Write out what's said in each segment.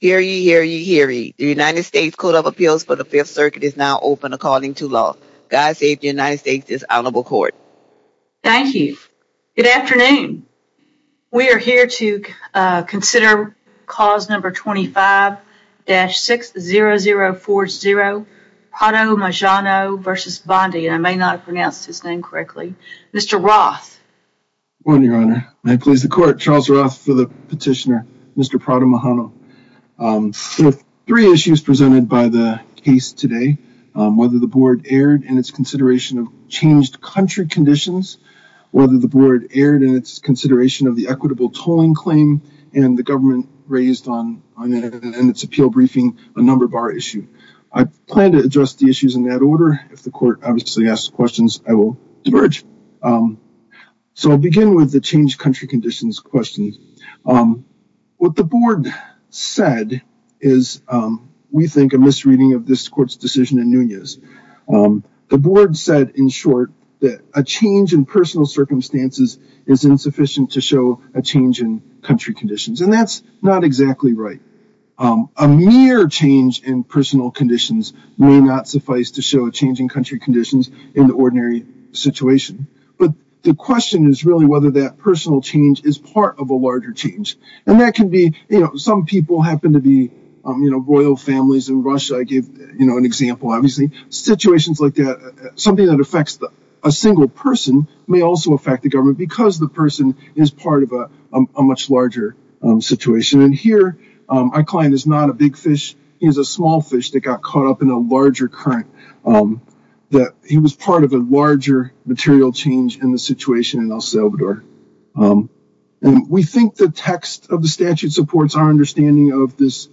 Here ye, here ye, here ye, the United States Code of Appeals for the Fifth Circuit is now open according to law. God save the United States, this Honorable Court. Thank you. Good afternoon. We are here to consider cause number 25-60040, Prado-Majano v. Bondi. I may not have pronounced his name correctly. Mr. Roth. Good morning, Your Honor. May it please the Court, Charles Roth for the petitioner, Mr. Prado-Majano. Three issues presented by the case today, whether the board erred in its consideration of changed country conditions, whether the board erred in its consideration of the equitable tolling claim and the government raised on in its appeal briefing a number bar issue. I plan to address the issues in that order. If the Court obviously asks questions, I will diverge. So I'll begin with the changed country conditions questions. What the board said is, we think, a misreading of this Court's decision in Nunez. The board said, in short, that a change in personal circumstances is insufficient to show a change in country conditions. And that's not exactly right. A mere change in personal conditions may not suffice to show a change in country conditions in the ordinary situation. But the question is really whether that personal change is part of a larger change. And that can be, you know, some people happen to be, you know, royal families in Russia. I gave, you know, an example, obviously. Situations like that, something that affects a single person may also affect the government because the person is part of a much larger situation. And here, our client is not a big fish. He's a small fish that got caught up in a larger current. He was part of a larger material change in the situation in El Salvador. And we think the text of the statute supports our understanding of this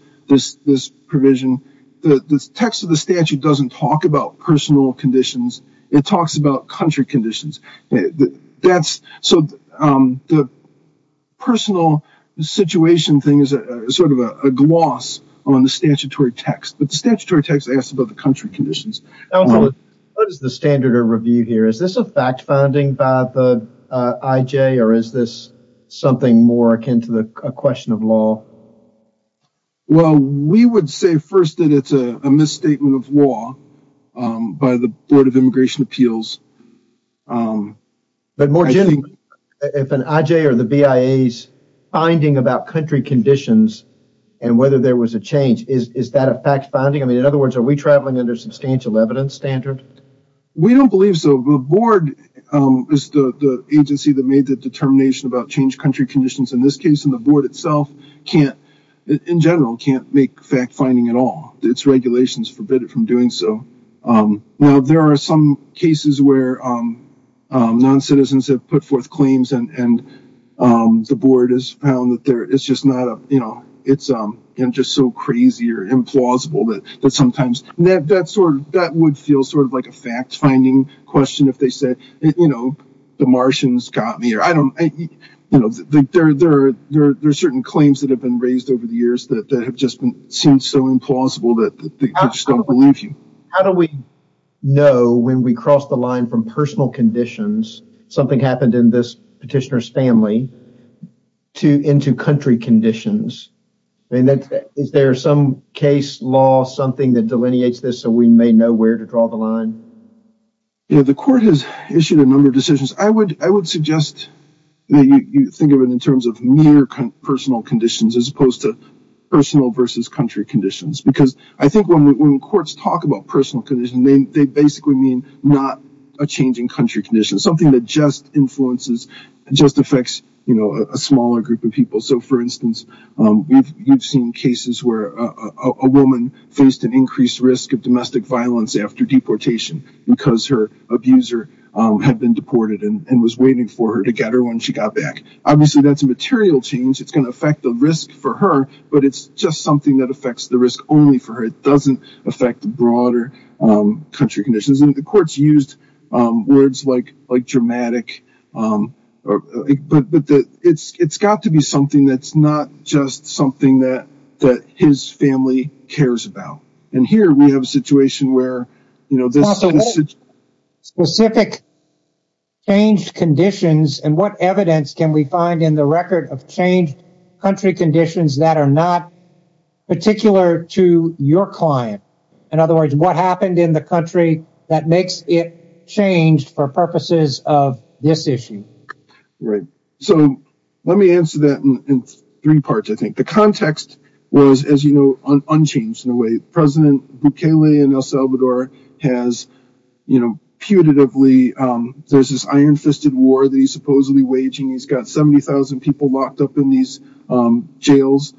provision. The text of the statute doesn't talk about personal conditions. It talks about country conditions. So the personal situation thing is sort of a gloss on the statutory text. But the country conditions. What is the standard of review here? Is this a fact finding by the IJ or is this something more akin to the question of law? Well, we would say first that it's a misstatement of law by the Board of Immigration Appeals. But more generally, if an IJ or the BIA's finding about country conditions and whether there was a is that a fact finding? In other words, are we traveling under substantial evidence standard? We don't believe so. The board is the agency that made the determination about change country conditions. In this case, the board itself, in general, can't make fact finding at all. Its regulations forbid it from doing so. Now, there are some cases where non-citizens have put forth claims and the board has found that it's just so crazy or implausible that sometimes that would feel sort of like a fact finding question if they said, you know, the Martians got me. There are certain claims that have been raised over the years that have just been seen so implausible that they just don't believe you. How do we know when we cross the line from personal conditions, something happened in this petitioner's family, to into country conditions? I mean, is there some case law, something that delineates this so we may know where to draw the line? Yeah, the court has issued a number of decisions. I would suggest that you think of it in terms of mere personal conditions as opposed to personal versus country conditions. Because I think when courts talk about personal conditions, they basically mean not a changing country condition, something that just influences, just affects, you know, a smaller group of people. So, for instance, we've seen cases where a woman faced an increased risk of domestic violence after deportation because her abuser had been deported and was waiting for her to get her when she got back. Obviously, that's a material change. It's going to affect the risk for her, but it's just that affects the risk only for her. It doesn't affect the broader country conditions. The courts used words like dramatic, but it's got to be something that's not just something that that his family cares about. And here we have a situation where, you know, this specific changed conditions and what evidence can we find in the record of changed country conditions that are not particular to your client? In other words, what happened in the country that makes it changed for purposes of this issue? Right. So, let me answer that in three parts, I think. The context was, as you know, unchanged in a way. President Bukele in El Salvador has, you know, putatively, there's this iron-fisted war that he's supposedly waging. He's got 70,000 people in these jails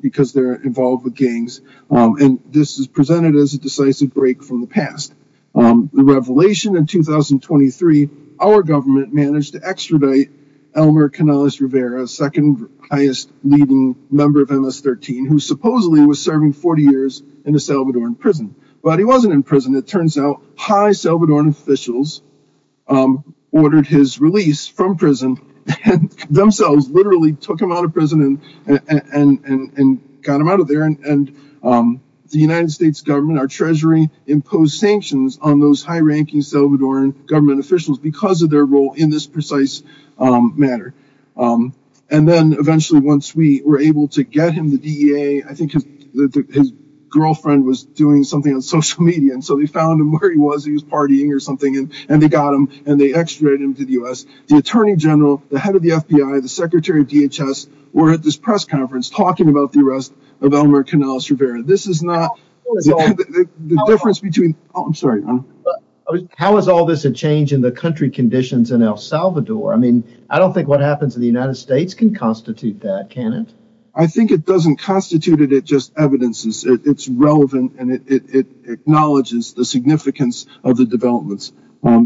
because they're involved with gangs. And this is presented as a decisive break from the past. The revelation in 2023, our government managed to extradite Elmer Canales Rivera, second highest leading member of MS-13, who supposedly was serving 40 years in a Salvadoran prison. But he wasn't in prison. It turns out high Salvadoran officials ordered his release from prison. And themselves literally took him out of prison and got him out of there. And the United States government, our treasury, imposed sanctions on those high-ranking Salvadoran government officials because of their role in this precise matter. And then eventually, once we were able to get him the DEA, I think his girlfriend was doing something on social media. And so they found him where he was. He was partying or something. And they got him and they extradited him to the U.S. The attorney general, the head of the FBI, the secretary of DHS were at this press conference talking about the arrest of Elmer Canales Rivera. This is not the difference between... How is all this a change in the country conditions in El Salvador? I mean, I don't think what happens in the United States can constitute that, can it? I think it doesn't constitute it. It's just evidence. It's relevant and it acknowledges the significance of the developments.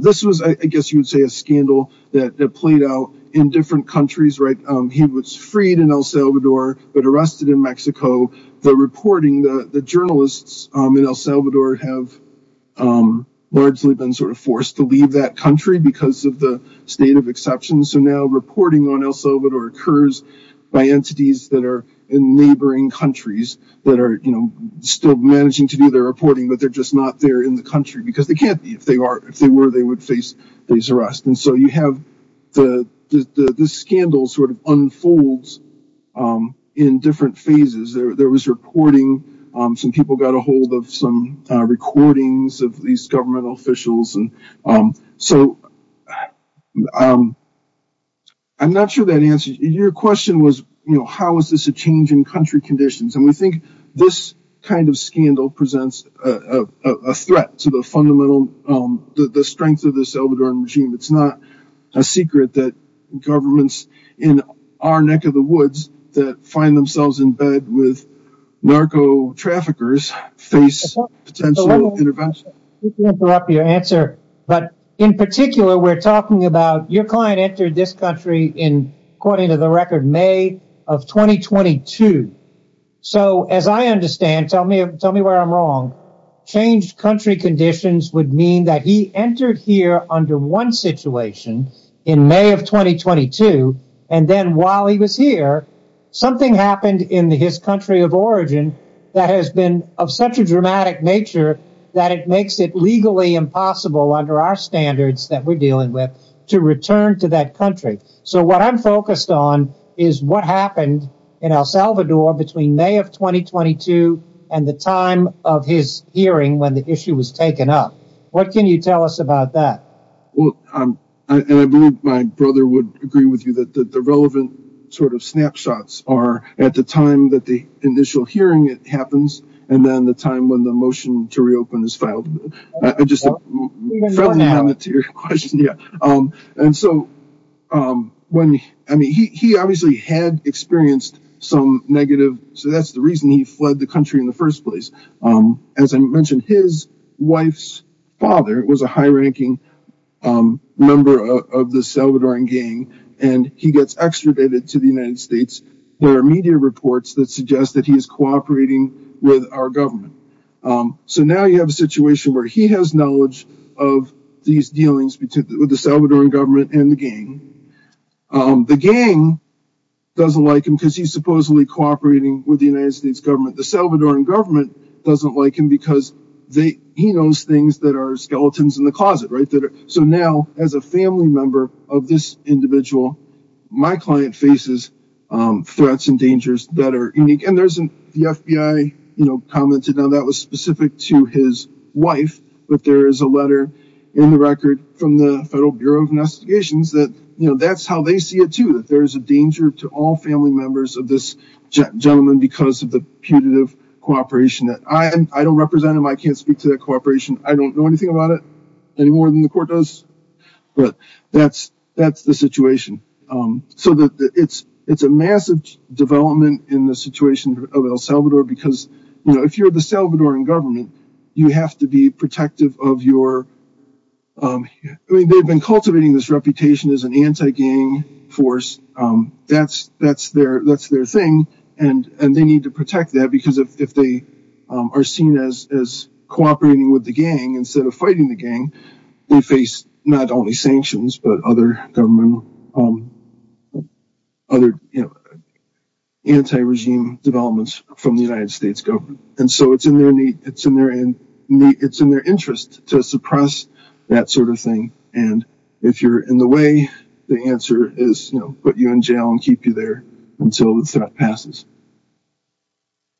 This was, I think, a big scandal that played out in different countries. He was freed in El Salvador, but arrested in Mexico. The reporting, the journalists in El Salvador have largely been sort of forced to leave that country because of the state of exceptions. So now reporting on El Salvador occurs by entities that are in neighboring countries that are still managing to do their reporting, but they're just not there in the country because they can't be. If they were, they would face these arrests. And so you have the scandal sort of unfolds in different phases. There was reporting. Some people got a hold of some recordings of these governmental officials. So I'm not sure that answers. Your question was, how is this a change in country conditions? And we it's not a secret that governments in our neck of the woods that find themselves in bed with narco traffickers face potential intervention. Let me interrupt your answer. But in particular, we're talking about your client entered this country in, according to the record, May of 2022. So as I understand, tell me where I'm wrong. Changed country conditions would mean that he entered here under one situation in May of 2022. And then while he was here, something happened in his country of origin that has been of such a dramatic nature that it makes it legally impossible under our standards that we're dealing with to return to that country. So what I'm focused on is what happened in El Salvador between May of 2022 and the time of his hearing when the issue was taken up. What can you tell us about that? Well, I believe my brother would agree with you that the relevant sort of snapshots are at the time that the initial hearing happens and then the time when the motion to reopen is filed. And so when I mean, he obviously had experienced some negative. So that's the reason he fled the country in the first place. As I mentioned, his wife's father was a high ranking member of the Salvadoran gang, and he gets extradited to the United States. There are media reports that suggest that he is cooperating with our government. So now you have a situation where he has knowledge of these dealings with the Salvadoran government and the gang. The gang doesn't like him because he's supposedly cooperating with the United States government. The Salvadoran government doesn't like him because he knows things that are skeletons in the closet. So now, as a family member of this individual, my client faces threats and dangers that are unique. And the FBI commented that was specific to his wife. But there is a letter in the record from the Federal Bureau of Investigations that that's how they see it too, that there's a danger to all family members of this gentleman because of the putative cooperation. I don't represent him. I can't speak to that cooperation. I don't know anything about it any more than the court does. But that's the situation. So it's a massive development in the situation of El Salvador because if you're the Salvadoran government, you have to be protective of your... They've been cultivating this reputation as an anti-gang force. That's their thing. And they need to protect that because if they are seen as cooperating with the gang instead of fighting the gang, they face not only sanctions, but other anti-regime developments from the United States government. And so it's in their interest to suppress that sort of thing. And if you're in the way, the answer is put you in jail and keep you there until the threat passes.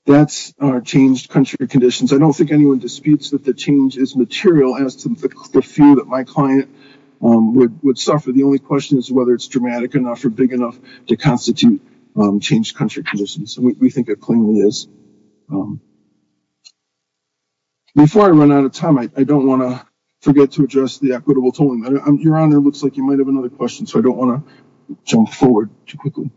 That's our changed country conditions. I don't think anyone disputes that the change is material as to the fear that my client would suffer. The only question is whether it's dramatic enough or big enough to constitute changed country conditions. And we think it plainly is. Before I run out of time, I don't want to forget to address the equitable tolling. Your Honor, it looks like you might have another question. So I don't want to jump forward too quickly.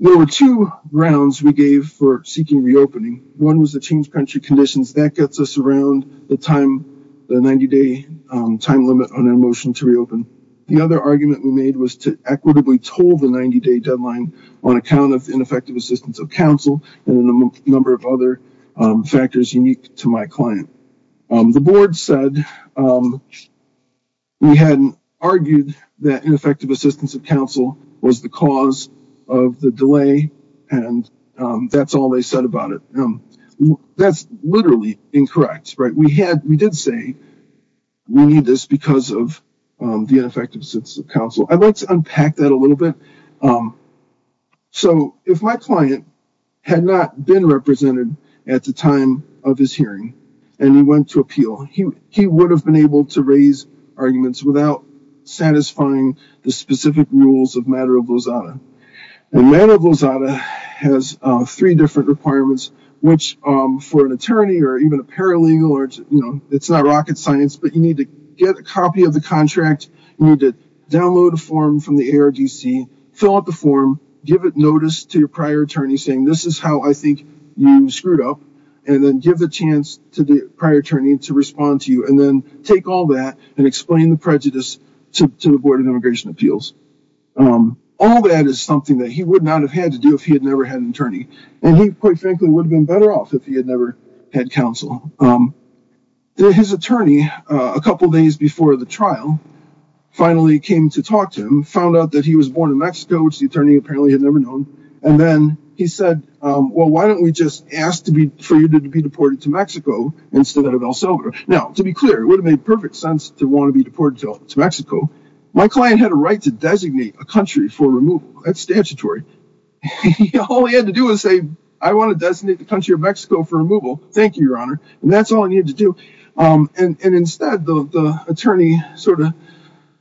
There were two rounds we gave for seeking reopening. One was the changed country conditions. That gets us around the 90-day time limit on a motion to reopen. The other argument we made was to equitably toll the 90-day deadline on account of ineffective assistance of counsel and a number of other factors unique to my client. The board said we hadn't argued that ineffective assistance of counsel was the cause of the delay. And that's all they said about it. That's literally incorrect. We did say we need this because of the ineffective assistance of counsel. I'd like to unpack that a little bit. So if my client had not been represented at the time of his hearing and he went to appeal, he would have been able to raise arguments without satisfying the specific rules of matter of Lozada. And matter of Lozada has three different requirements, which for an attorney or even a paralegal, it's not rocket science, but you need to get a copy of the contract. You need to download a form from the ARDC, fill out the form, give it notice to your prior attorney saying this is how I think you screwed up, and then give the chance to the prior to respond to you and take all that and explain the prejudice to the board of immigration appeals. All that is something that he would not have had to do if he had never had an attorney. And he, quite frankly, would have been better off if he had never had counsel. His attorney, a couple of days before the trial, finally came to talk to him, found out that he was born in Mexico, which the attorney apparently had never known. And then he said, well, why don't we just ask for you to be deported to Mexico instead of El Salvador? Now, to be clear, it would have made perfect sense to want to be deported to Mexico. My client had a right to designate a country for removal. That's statutory. All he had to do was say, I want to designate the country of Mexico for removal. Thank you, your honor. And that's all I needed to do. And instead, the attorney sort of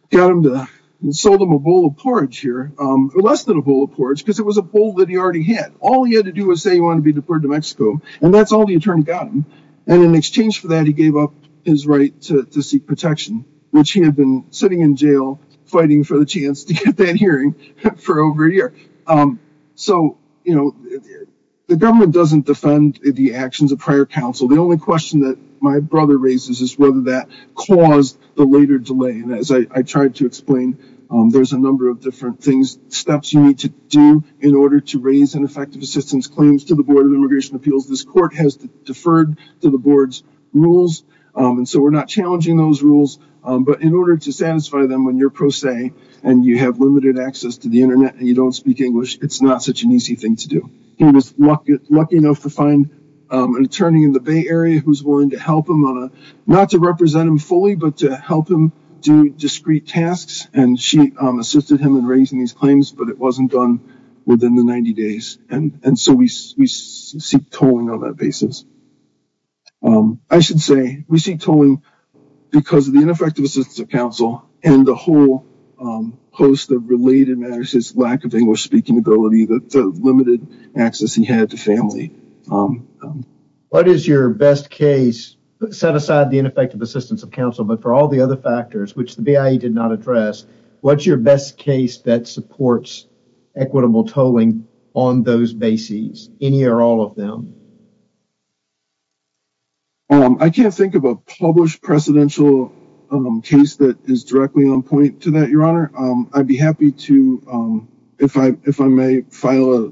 got him to sold him a bowl of porridge here, less than a bowl of porridge, because it was a bowl that he already had. All he had to do was say he wanted to be deported to Mexico. And that's all the exchange for that. He gave up his right to seek protection, which he had been sitting in jail, fighting for the chance to get that hearing for over a year. So, you know, the government doesn't defend the actions of prior counsel. The only question that my brother raises is whether that caused the later delay. And as I tried to explain, there's a number of different things, steps you need to do in order to raise an effective assistance claims to the board's rules. And so we're not challenging those rules. But in order to satisfy them, when you're pro se and you have limited access to the internet and you don't speak English, it's not such an easy thing to do. He was lucky enough to find an attorney in the Bay Area who's willing to help him, not to represent him fully, but to help him do discrete tasks. And she assisted him in raising these claims, but it wasn't done within the 90 days. And so we seek tolling on that basis. I should say, we seek tolling because of the ineffective assistance of counsel and the whole host of related matters, his lack of English speaking ability, the limited access he had to family. What is your best case, set aside the ineffective assistance of counsel, but for all the other factors, which the BIE did not address, what's your best case that supports equitable tolling on those bases, any or all of them? I can't think of a published precedential case that is directly on point to that, your honor. I'd be happy to, if I may file a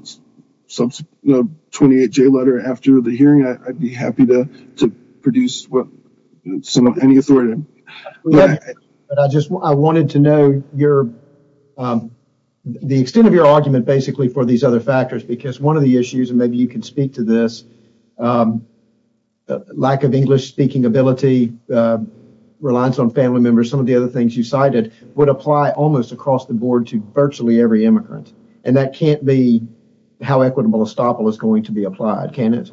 28-J letter after the hearing, I'd be happy to produce some of any authority. I just, I wanted to know your, the extent of your argument basically for these other factors, because one of the issues, and maybe you can speak to this, lack of English speaking ability, reliance on family members, some of the other things you cited would apply almost across the board to virtually every immigrant. And that can't be how equitable estoppel is going to be applied, can it?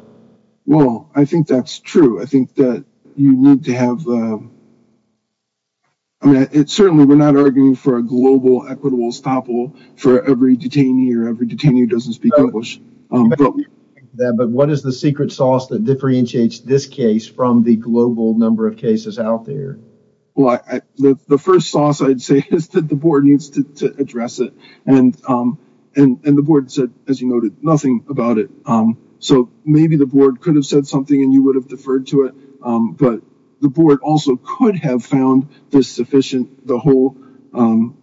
Well, I think that's true. I think that you need to have, I mean, it's certainly, we're not arguing for a global equitable estoppel for every detainee or every detainee who doesn't speak English. But what is the secret sauce that differentiates this case from the global number of cases out there? Well, the first sauce I'd say is that the board needs to address it. And the board said, as you noted, nothing about it. So maybe the board could have said something and you would have deferred to it, but the board also could have found this sufficient, the whole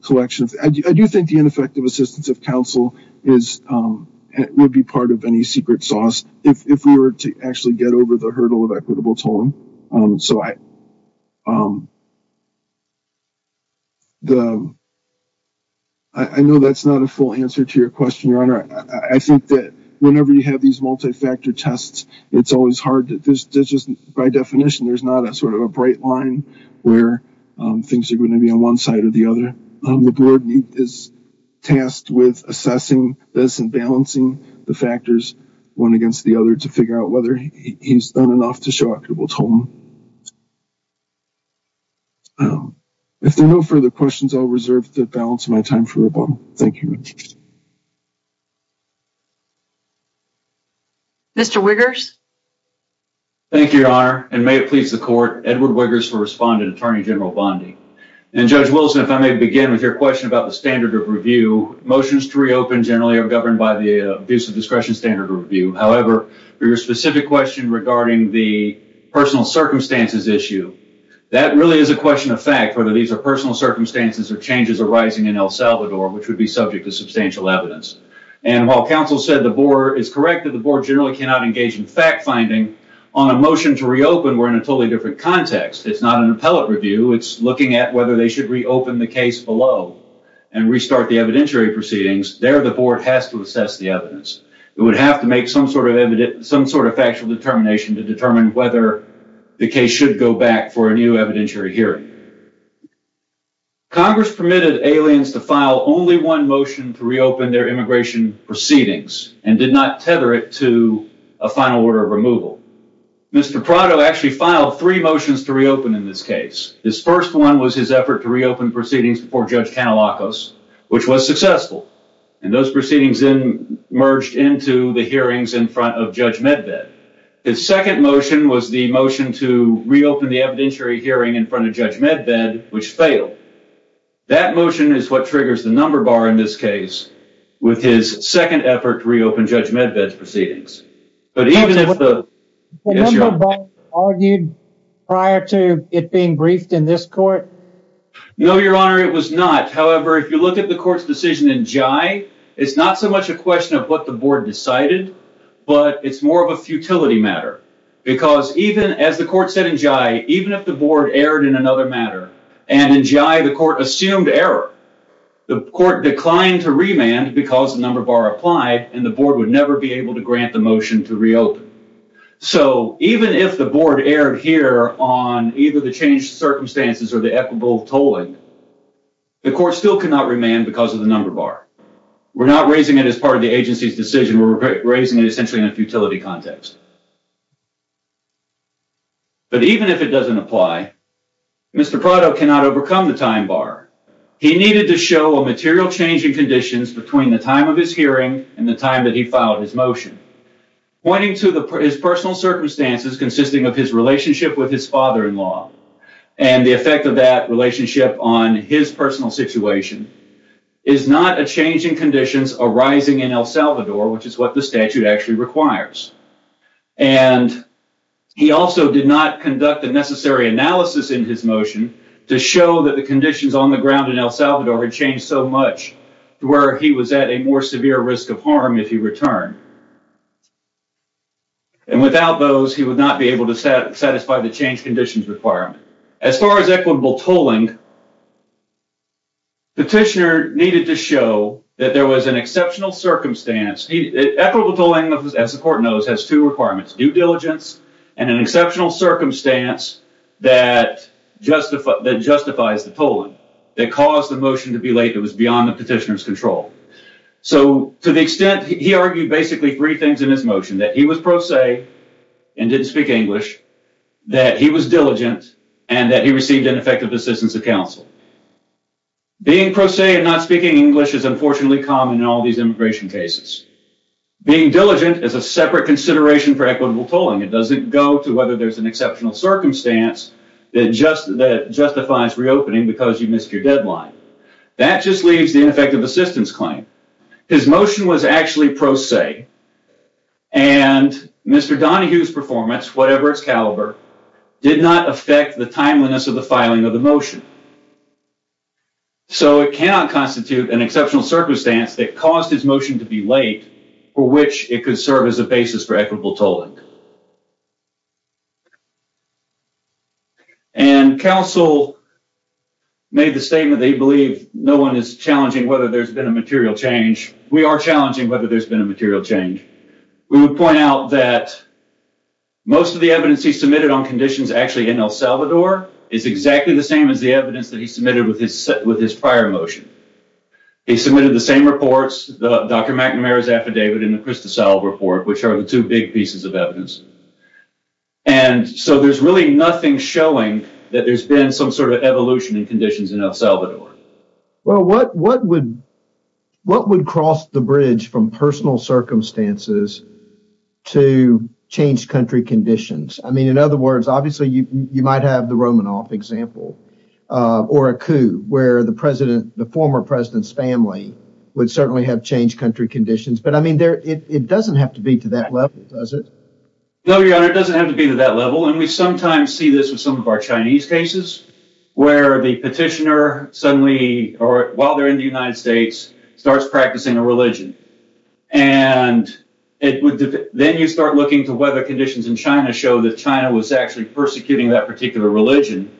collection. I do think the ineffective assistance of counsel would be part of any secret sauce if we were to actually get over the hurdle of equitable tolling. So I know that's not a full answer to your question, Your Honor. I think that whenever you have these multi-factor tests, it's always hard to, there's just, by definition, there's not a sort of a bright line where things are going to be on one side or the other. The board is tasked with assessing this and balancing the factors one against the other to figure out whether he's done enough to show equitable tolling. If there are no further questions, I'll reserve the balance of my time for rebuttal. Thank you. Mr. Wiggers. Thank you, Your Honor. And may it please the court, Edward Wiggers for respondent, Attorney General Bondi. And Judge Wilson, if I may begin with your question about the standard of review, motions to reopen generally are governed by the abuse of discretion standard review. However, for your specific question regarding the personal safety of the person circumstances issue, that really is a question of fact, whether these are personal circumstances or changes arising in El Salvador, which would be subject to substantial evidence. And while counsel said the board is correct that the board generally cannot engage in fact-finding on a motion to reopen, we're in a totally different context. It's not an appellate review. It's looking at whether they should reopen the case below and restart the evidentiary proceedings. There, the board has to assess the evidence. It would have to make some sort of factual determination to determine whether the case should go back for a new evidentiary hearing. Congress permitted aliens to file only one motion to reopen their immigration proceedings and did not tether it to a final order of removal. Mr. Prado actually filed three motions to reopen in this case. His first one was his effort to reopen proceedings before Judge Canalacos, which was successful. And those proceedings then merged into the hearings in front of Judge Medved. His second motion was the motion to reopen the evidentiary hearing in front of Judge Medved, which failed. That motion is what triggers the number bar in this case with his second effort to reopen Judge Medved's proceedings. But even if the number bar argued prior to it being court's decision in Jye, it's not so much a question of what the board decided, but it's more of a futility matter. Because even as the court said in Jye, even if the board erred in another matter and in Jye the court assumed error, the court declined to remand because the number bar applied and the board would never be able to grant the motion to reopen. So even if the board erred here on either the changed circumstances or the equitable tolling, the court still cannot remand because of the number bar. We're not raising it as part of the agency's decision, we're raising it essentially in a futility context. But even if it doesn't apply, Mr. Prado cannot overcome the time bar. He needed to show a material change in conditions between the time of his hearing and the time that he filed his motion, pointing to his personal circumstances consisting of his relationship with his father-in-law and the effect of that relationship on his personal situation is not a change in conditions arising in El Salvador, which is what the statute actually requires. And he also did not conduct the necessary analysis in his motion to show that the conditions on the ground in El Salvador had changed so much to where he was at a more severe risk of harm if he returned. And without those, he would not be able to satisfy the change conditions requirement. As far as equitable tolling, Petitioner needed to show that there was an exceptional circumstance. Equitable tolling, as the court knows, has two requirements, due diligence and an exceptional circumstance that justifies the tolling that caused the motion to be late that was beyond Petitioner's control. So, to the extent he argued basically three things in his motion, that he was pro se and didn't speak English, that he was diligent, and that he received ineffective assistance of counsel. Being pro se and not speaking English is unfortunately common in all these immigration cases. Being diligent is a separate consideration for equitable tolling. It doesn't go to whether there's an exceptional circumstance that justifies reopening because you missed your deadline. That just leaves the ineffective assistance claim. His motion was actually pro se, and Mr. Donohue's performance, whatever its caliber, did not affect the timeliness of the filing of the motion. So, it cannot constitute an exceptional circumstance that caused his motion to be late for which it could serve as a basis for equitable tolling. And counsel made the statement that he believed no one is challenging whether there's been a material change. We are challenging whether there's been a material change. We would point out that most of the evidence he submitted on conditions actually in El Salvador is exactly the same as the evidence that he submitted with his prior motion. He submitted the same reports, Dr. McNamara's affidavit and the Cristosal report, which are two big pieces of evidence. And so, there's really nothing showing that there's been some sort of evolution in conditions in El Salvador. Well, what would cross the bridge from personal circumstances to changed country conditions? I mean, in other words, obviously, you might have the Romanoff example or a coup where the former president's family would certainly have changed country conditions. But I mean, it doesn't have to be to that level, does it? No, Your Honor, it doesn't have to be to that level. And we sometimes see this with some of our Chinese cases where the petitioner suddenly, or while they're in the United States, starts practicing a religion. And then you start looking to whether conditions in China show that China was actually persecuting that particular religion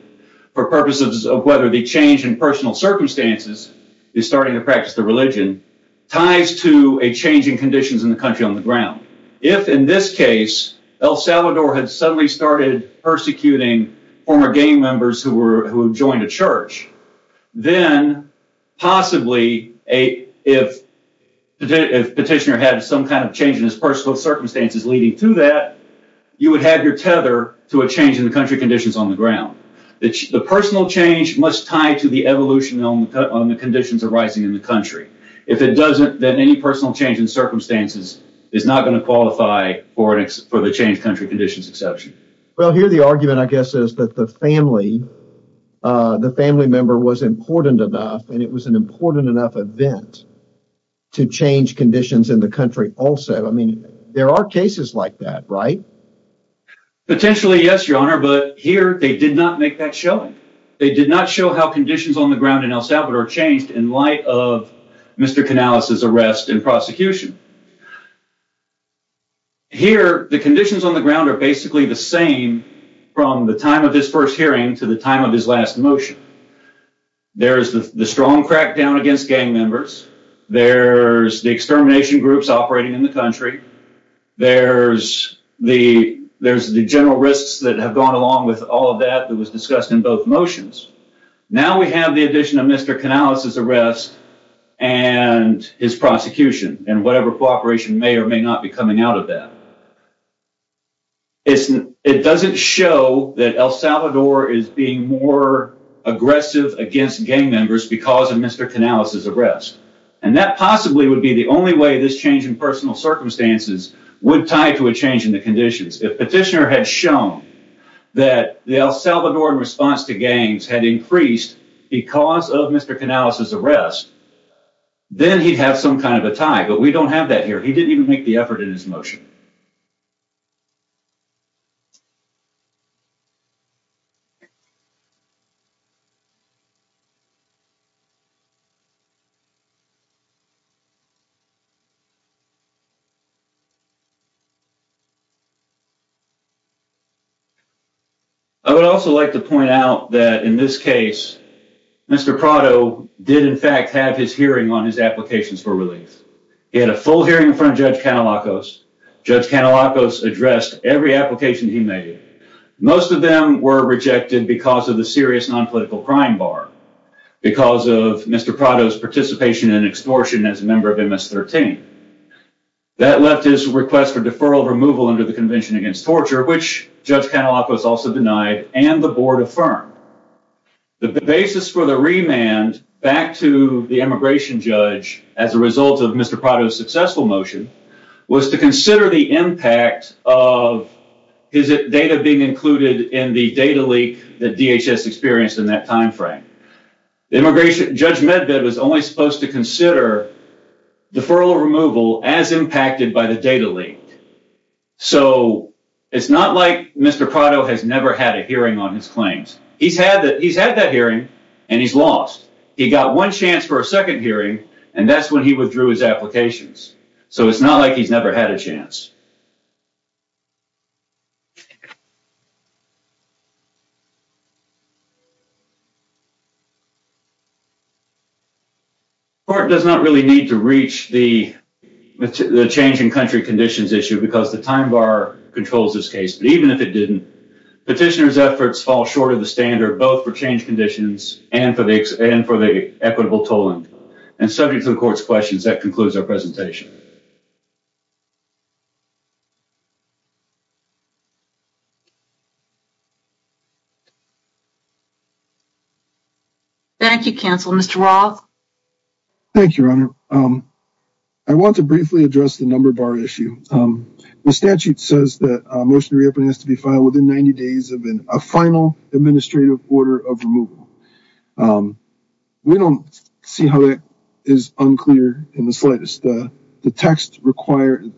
for purposes of whether the change in personal circumstances is starting to practice the religion ties to a change in conditions in the country on the ground. If, in this case, El Salvador had suddenly started persecuting former gang members who joined a church, then possibly if the petitioner had some kind of change in his personal circumstances leading to that, you would have your tether to a change in the country conditions on the ground. The personal change must tie to the evolution on the conditions arising in the country. If it doesn't, then any personal change in circumstances is not going to qualify for the change country conditions exception. Well, here the argument, I guess, is that the family member was important enough and it was an important enough event to change conditions in the country also. I mean, there are cases like that, right? Potentially, yes, Your Honor, but here they did not make that showing. They did not show how conditions on the ground in El Salvador changed in light of Mr. Canales' arrest and prosecution. Here, the conditions on the ground are basically the same from the time of his first hearing to the time of his last motion. There's the strong crackdown against gang members. There's the extermination groups operating in the country. There's the general risks that have gone along with all of that that was discussed in both motions. Now we have the addition of Mr. Canales' arrest and his prosecution and whatever cooperation may or may not be coming out of that. It doesn't show that El Salvador is being more aggressive against gang members because of Mr. Canales' arrest, and that possibly would be the only way this change in personal circumstances would tie to a change in the conditions. If Petitioner had shown that the El Salvador response to gangs had increased because of Mr. Canales' arrest, then he'd have some kind of a tie, but we don't have that here. He didn't even make the effort in his motion. I would also like to point out that in this case, Mr. Prado did, in fact, have his hearing on his applications for relief. He had a full hearing in front of Judge Canalacos. Judge Canalacos addressed every application he made. Most of them were rejected because of the serious non-political crime bar, because of Mr. Prado's participation in extortion as a member of MS-13. That left his request for deferral removal under the Convention Against Torture, which Judge Canalacos also denied, and the board affirmed. The basis for the remand back to the immigration judge as a result of Mr. Prado's successful motion was to consider the impact of his data being included in the data leak that DHS experienced in that time frame. The immigration judge was only supposed to consider deferral removal as impacted by the data leak. So, it's not like Mr. Prado has never had a hearing on his claims. He's had that hearing and he's lost. He got one chance for a second hearing and that's when he withdrew his applications. So, it's not like he's never had a chance. The court does not really need to reach the change in country conditions issue because the time bar controls this case. But even if it didn't, petitioner's efforts fall short of the standard both for change conditions and for the equitable tolling. Subject to the court's questions, that concludes our presentation. Thank you, counsel. Mr. Roth? Thank you, Your Honor. I want to briefly address the number bar issue. The statute says that a motion to reopen has to be filed within 90 days of a final administrative order of removal. We don't see how that is unclear in the slightest. The text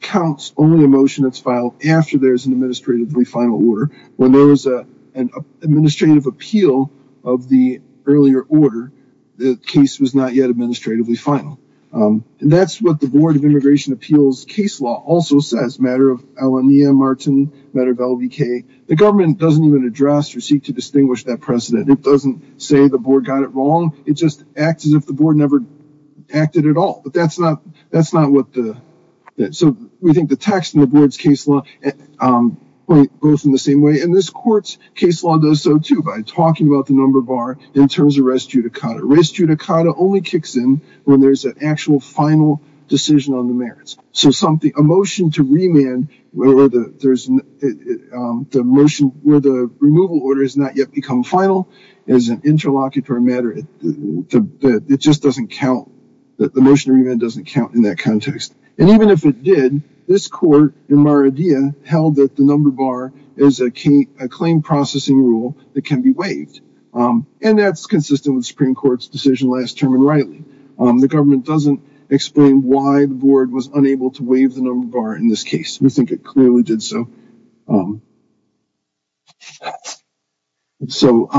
counts only a motion that's filed after an administratively final order. When there was an administrative appeal of the earlier order, the case was not yet administratively final. That's what the Board of Immigration Appeals case law also says. The government doesn't even address or seek to distinguish that precedent. It doesn't say the board got it wrong. It just acts as if the board never acted at all. That's not what the... We think the text in the board's case law goes in the same way. This court's case law does so too by talking about the number bar in terms of res judicata. Res judicata only kicks in when there's an actual final decision on the merits. A motion to remand where the removal order has not yet become final is an interlocutory matter. It just doesn't count. The motion to remand doesn't count in that context. Even if it did, this court in Mar-a-Dia held that the number bar is a claim processing rule that can be waived. That's consistent with the Supreme Court's decision last term and rightly. The government doesn't explain why the board was unable to waive the res judicata. We think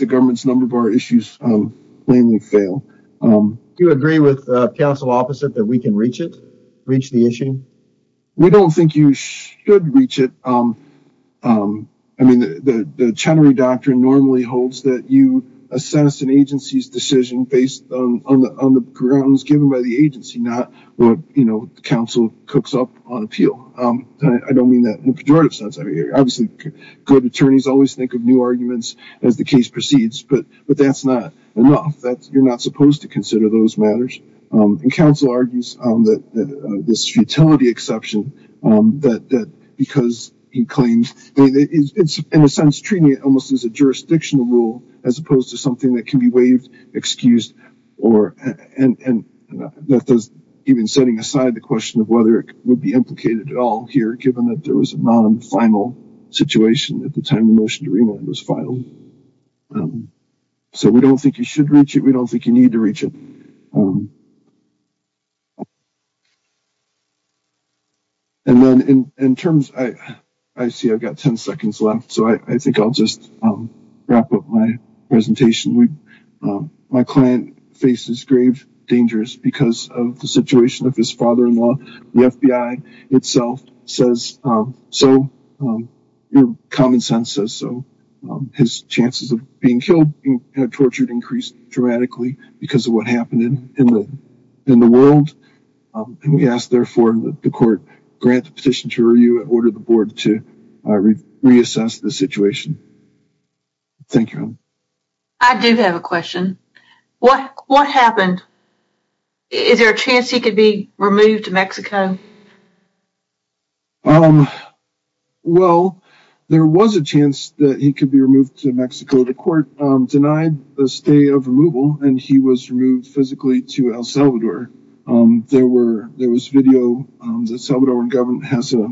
the government's number bar issues plainly fail. Do you agree with counsel opposite that we can reach the issue? We don't think you should reach it. The Chenery Doctrine normally holds that you assess an agency's decision based on the grounds given by the agency, not what counsel cooks up on appeal. I don't mean that in a pejorative sense. Obviously, good attorneys always think of new arguments as the case proceeds, but that's not enough. You're not supposed to consider those matters. Counsel argues that this futility exception, because he claims, in a sense, treating it almost as a jurisdictional rule as opposed to something that can be waived, excused, and that does even setting aside the question of whether it would be implicated at all here, given that there was a non-final situation at the time the motion to remand was filed. So we don't think you should reach it. We don't think you need to reach it. And then in terms, I see I've got 10 seconds left, so I think I'll just wrap up my presentation. My client faces grave dangers because of the situation of his father-in-law. The FBI itself says so. Common sense says so. His chances of being killed and tortured increased dramatically because of what happened in the world. And we ask, therefore, that the court grant the petition to order the board to reassess the situation. Thank you. I do have a question. What happened? Is there a chance he could be removed to Mexico? Well, there was a chance that he could be removed to Mexico. The court denied the stay of removal, and he was removed physically to El Salvador. There was video that Salvadoran government has a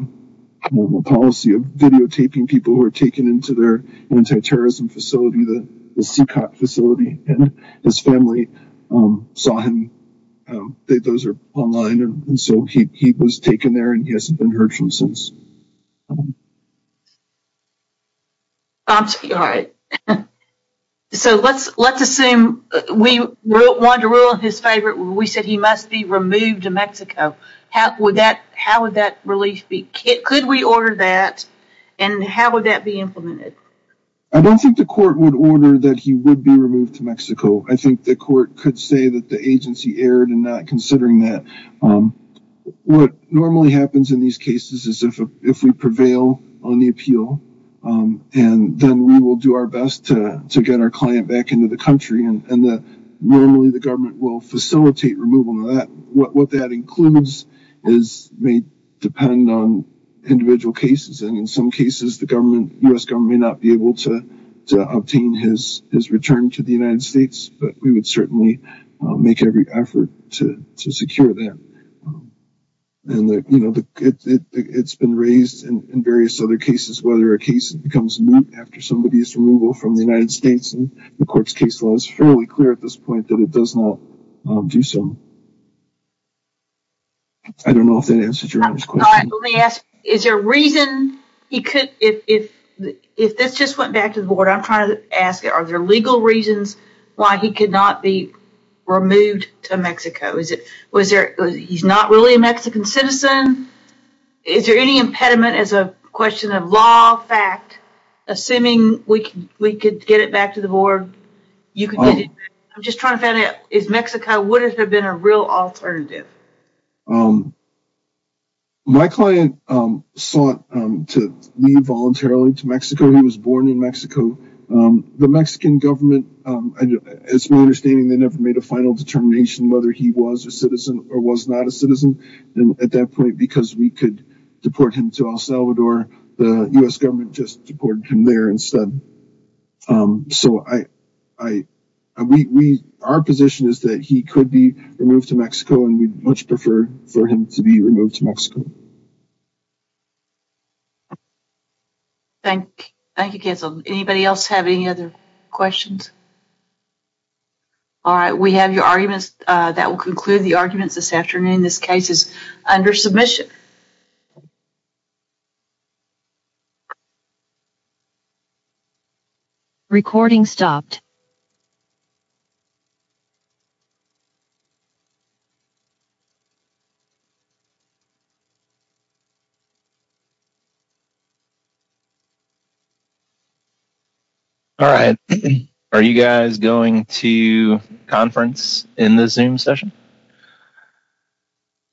policy of videotaping people who are taken into their anti-terrorism facility, the CICOT facility, and his family saw him. Those are online. And so he was taken there, and he hasn't been heard from since. All right. So let's assume we wanted to rule his favorite. We said he must be removed to Mexico. Would that, how would that relief be? Could we order that, and how would that be implemented? I don't think the court would order that he would be removed to Mexico. I think the court could say that the agency erred in not considering that. What normally happens in these cases is if we prevail on the appeal, and then we will do our best to get our client back into the country, normally the government will facilitate removal. What that includes may depend on individual cases. And in some cases, the U.S. government may not be able to obtain his return to the United States, but we would certainly make every effort to secure that. And it's been raised in various other cases, whether a case becomes moot after somebody's removal from the United States, and the court's case law is fairly clear at this point that it does not do so. I don't know if that answers your question. All right. Let me ask, is there a reason he could, if this just went back to the board, I'm trying to ask, are there legal reasons why he could not be removed to Mexico? Is it, was there, he's not really a Mexican citizen? Is there any impediment as a question of law, fact, assuming we could get it back to the board? I'm just trying to find out, is Mexico, would it have been a real alternative? My client sought to leave voluntarily to Mexico. He was born in Mexico. The Mexican government, it's my understanding they never made a final determination whether he was a citizen or was not a citizen at that point, because we could deport him to El Salvador. The U.S. government just deported him there instead. So I, I, we, we, our position is that he could be removed to Mexico and we'd much prefer for him to be removed to Mexico. Thank you. Thank you, Cancel. Anybody else have any other questions? All right. We have your arguments that will conclude the arguments this afternoon. This case is under submission. All right. Are you guys going to conference in the Zoom session?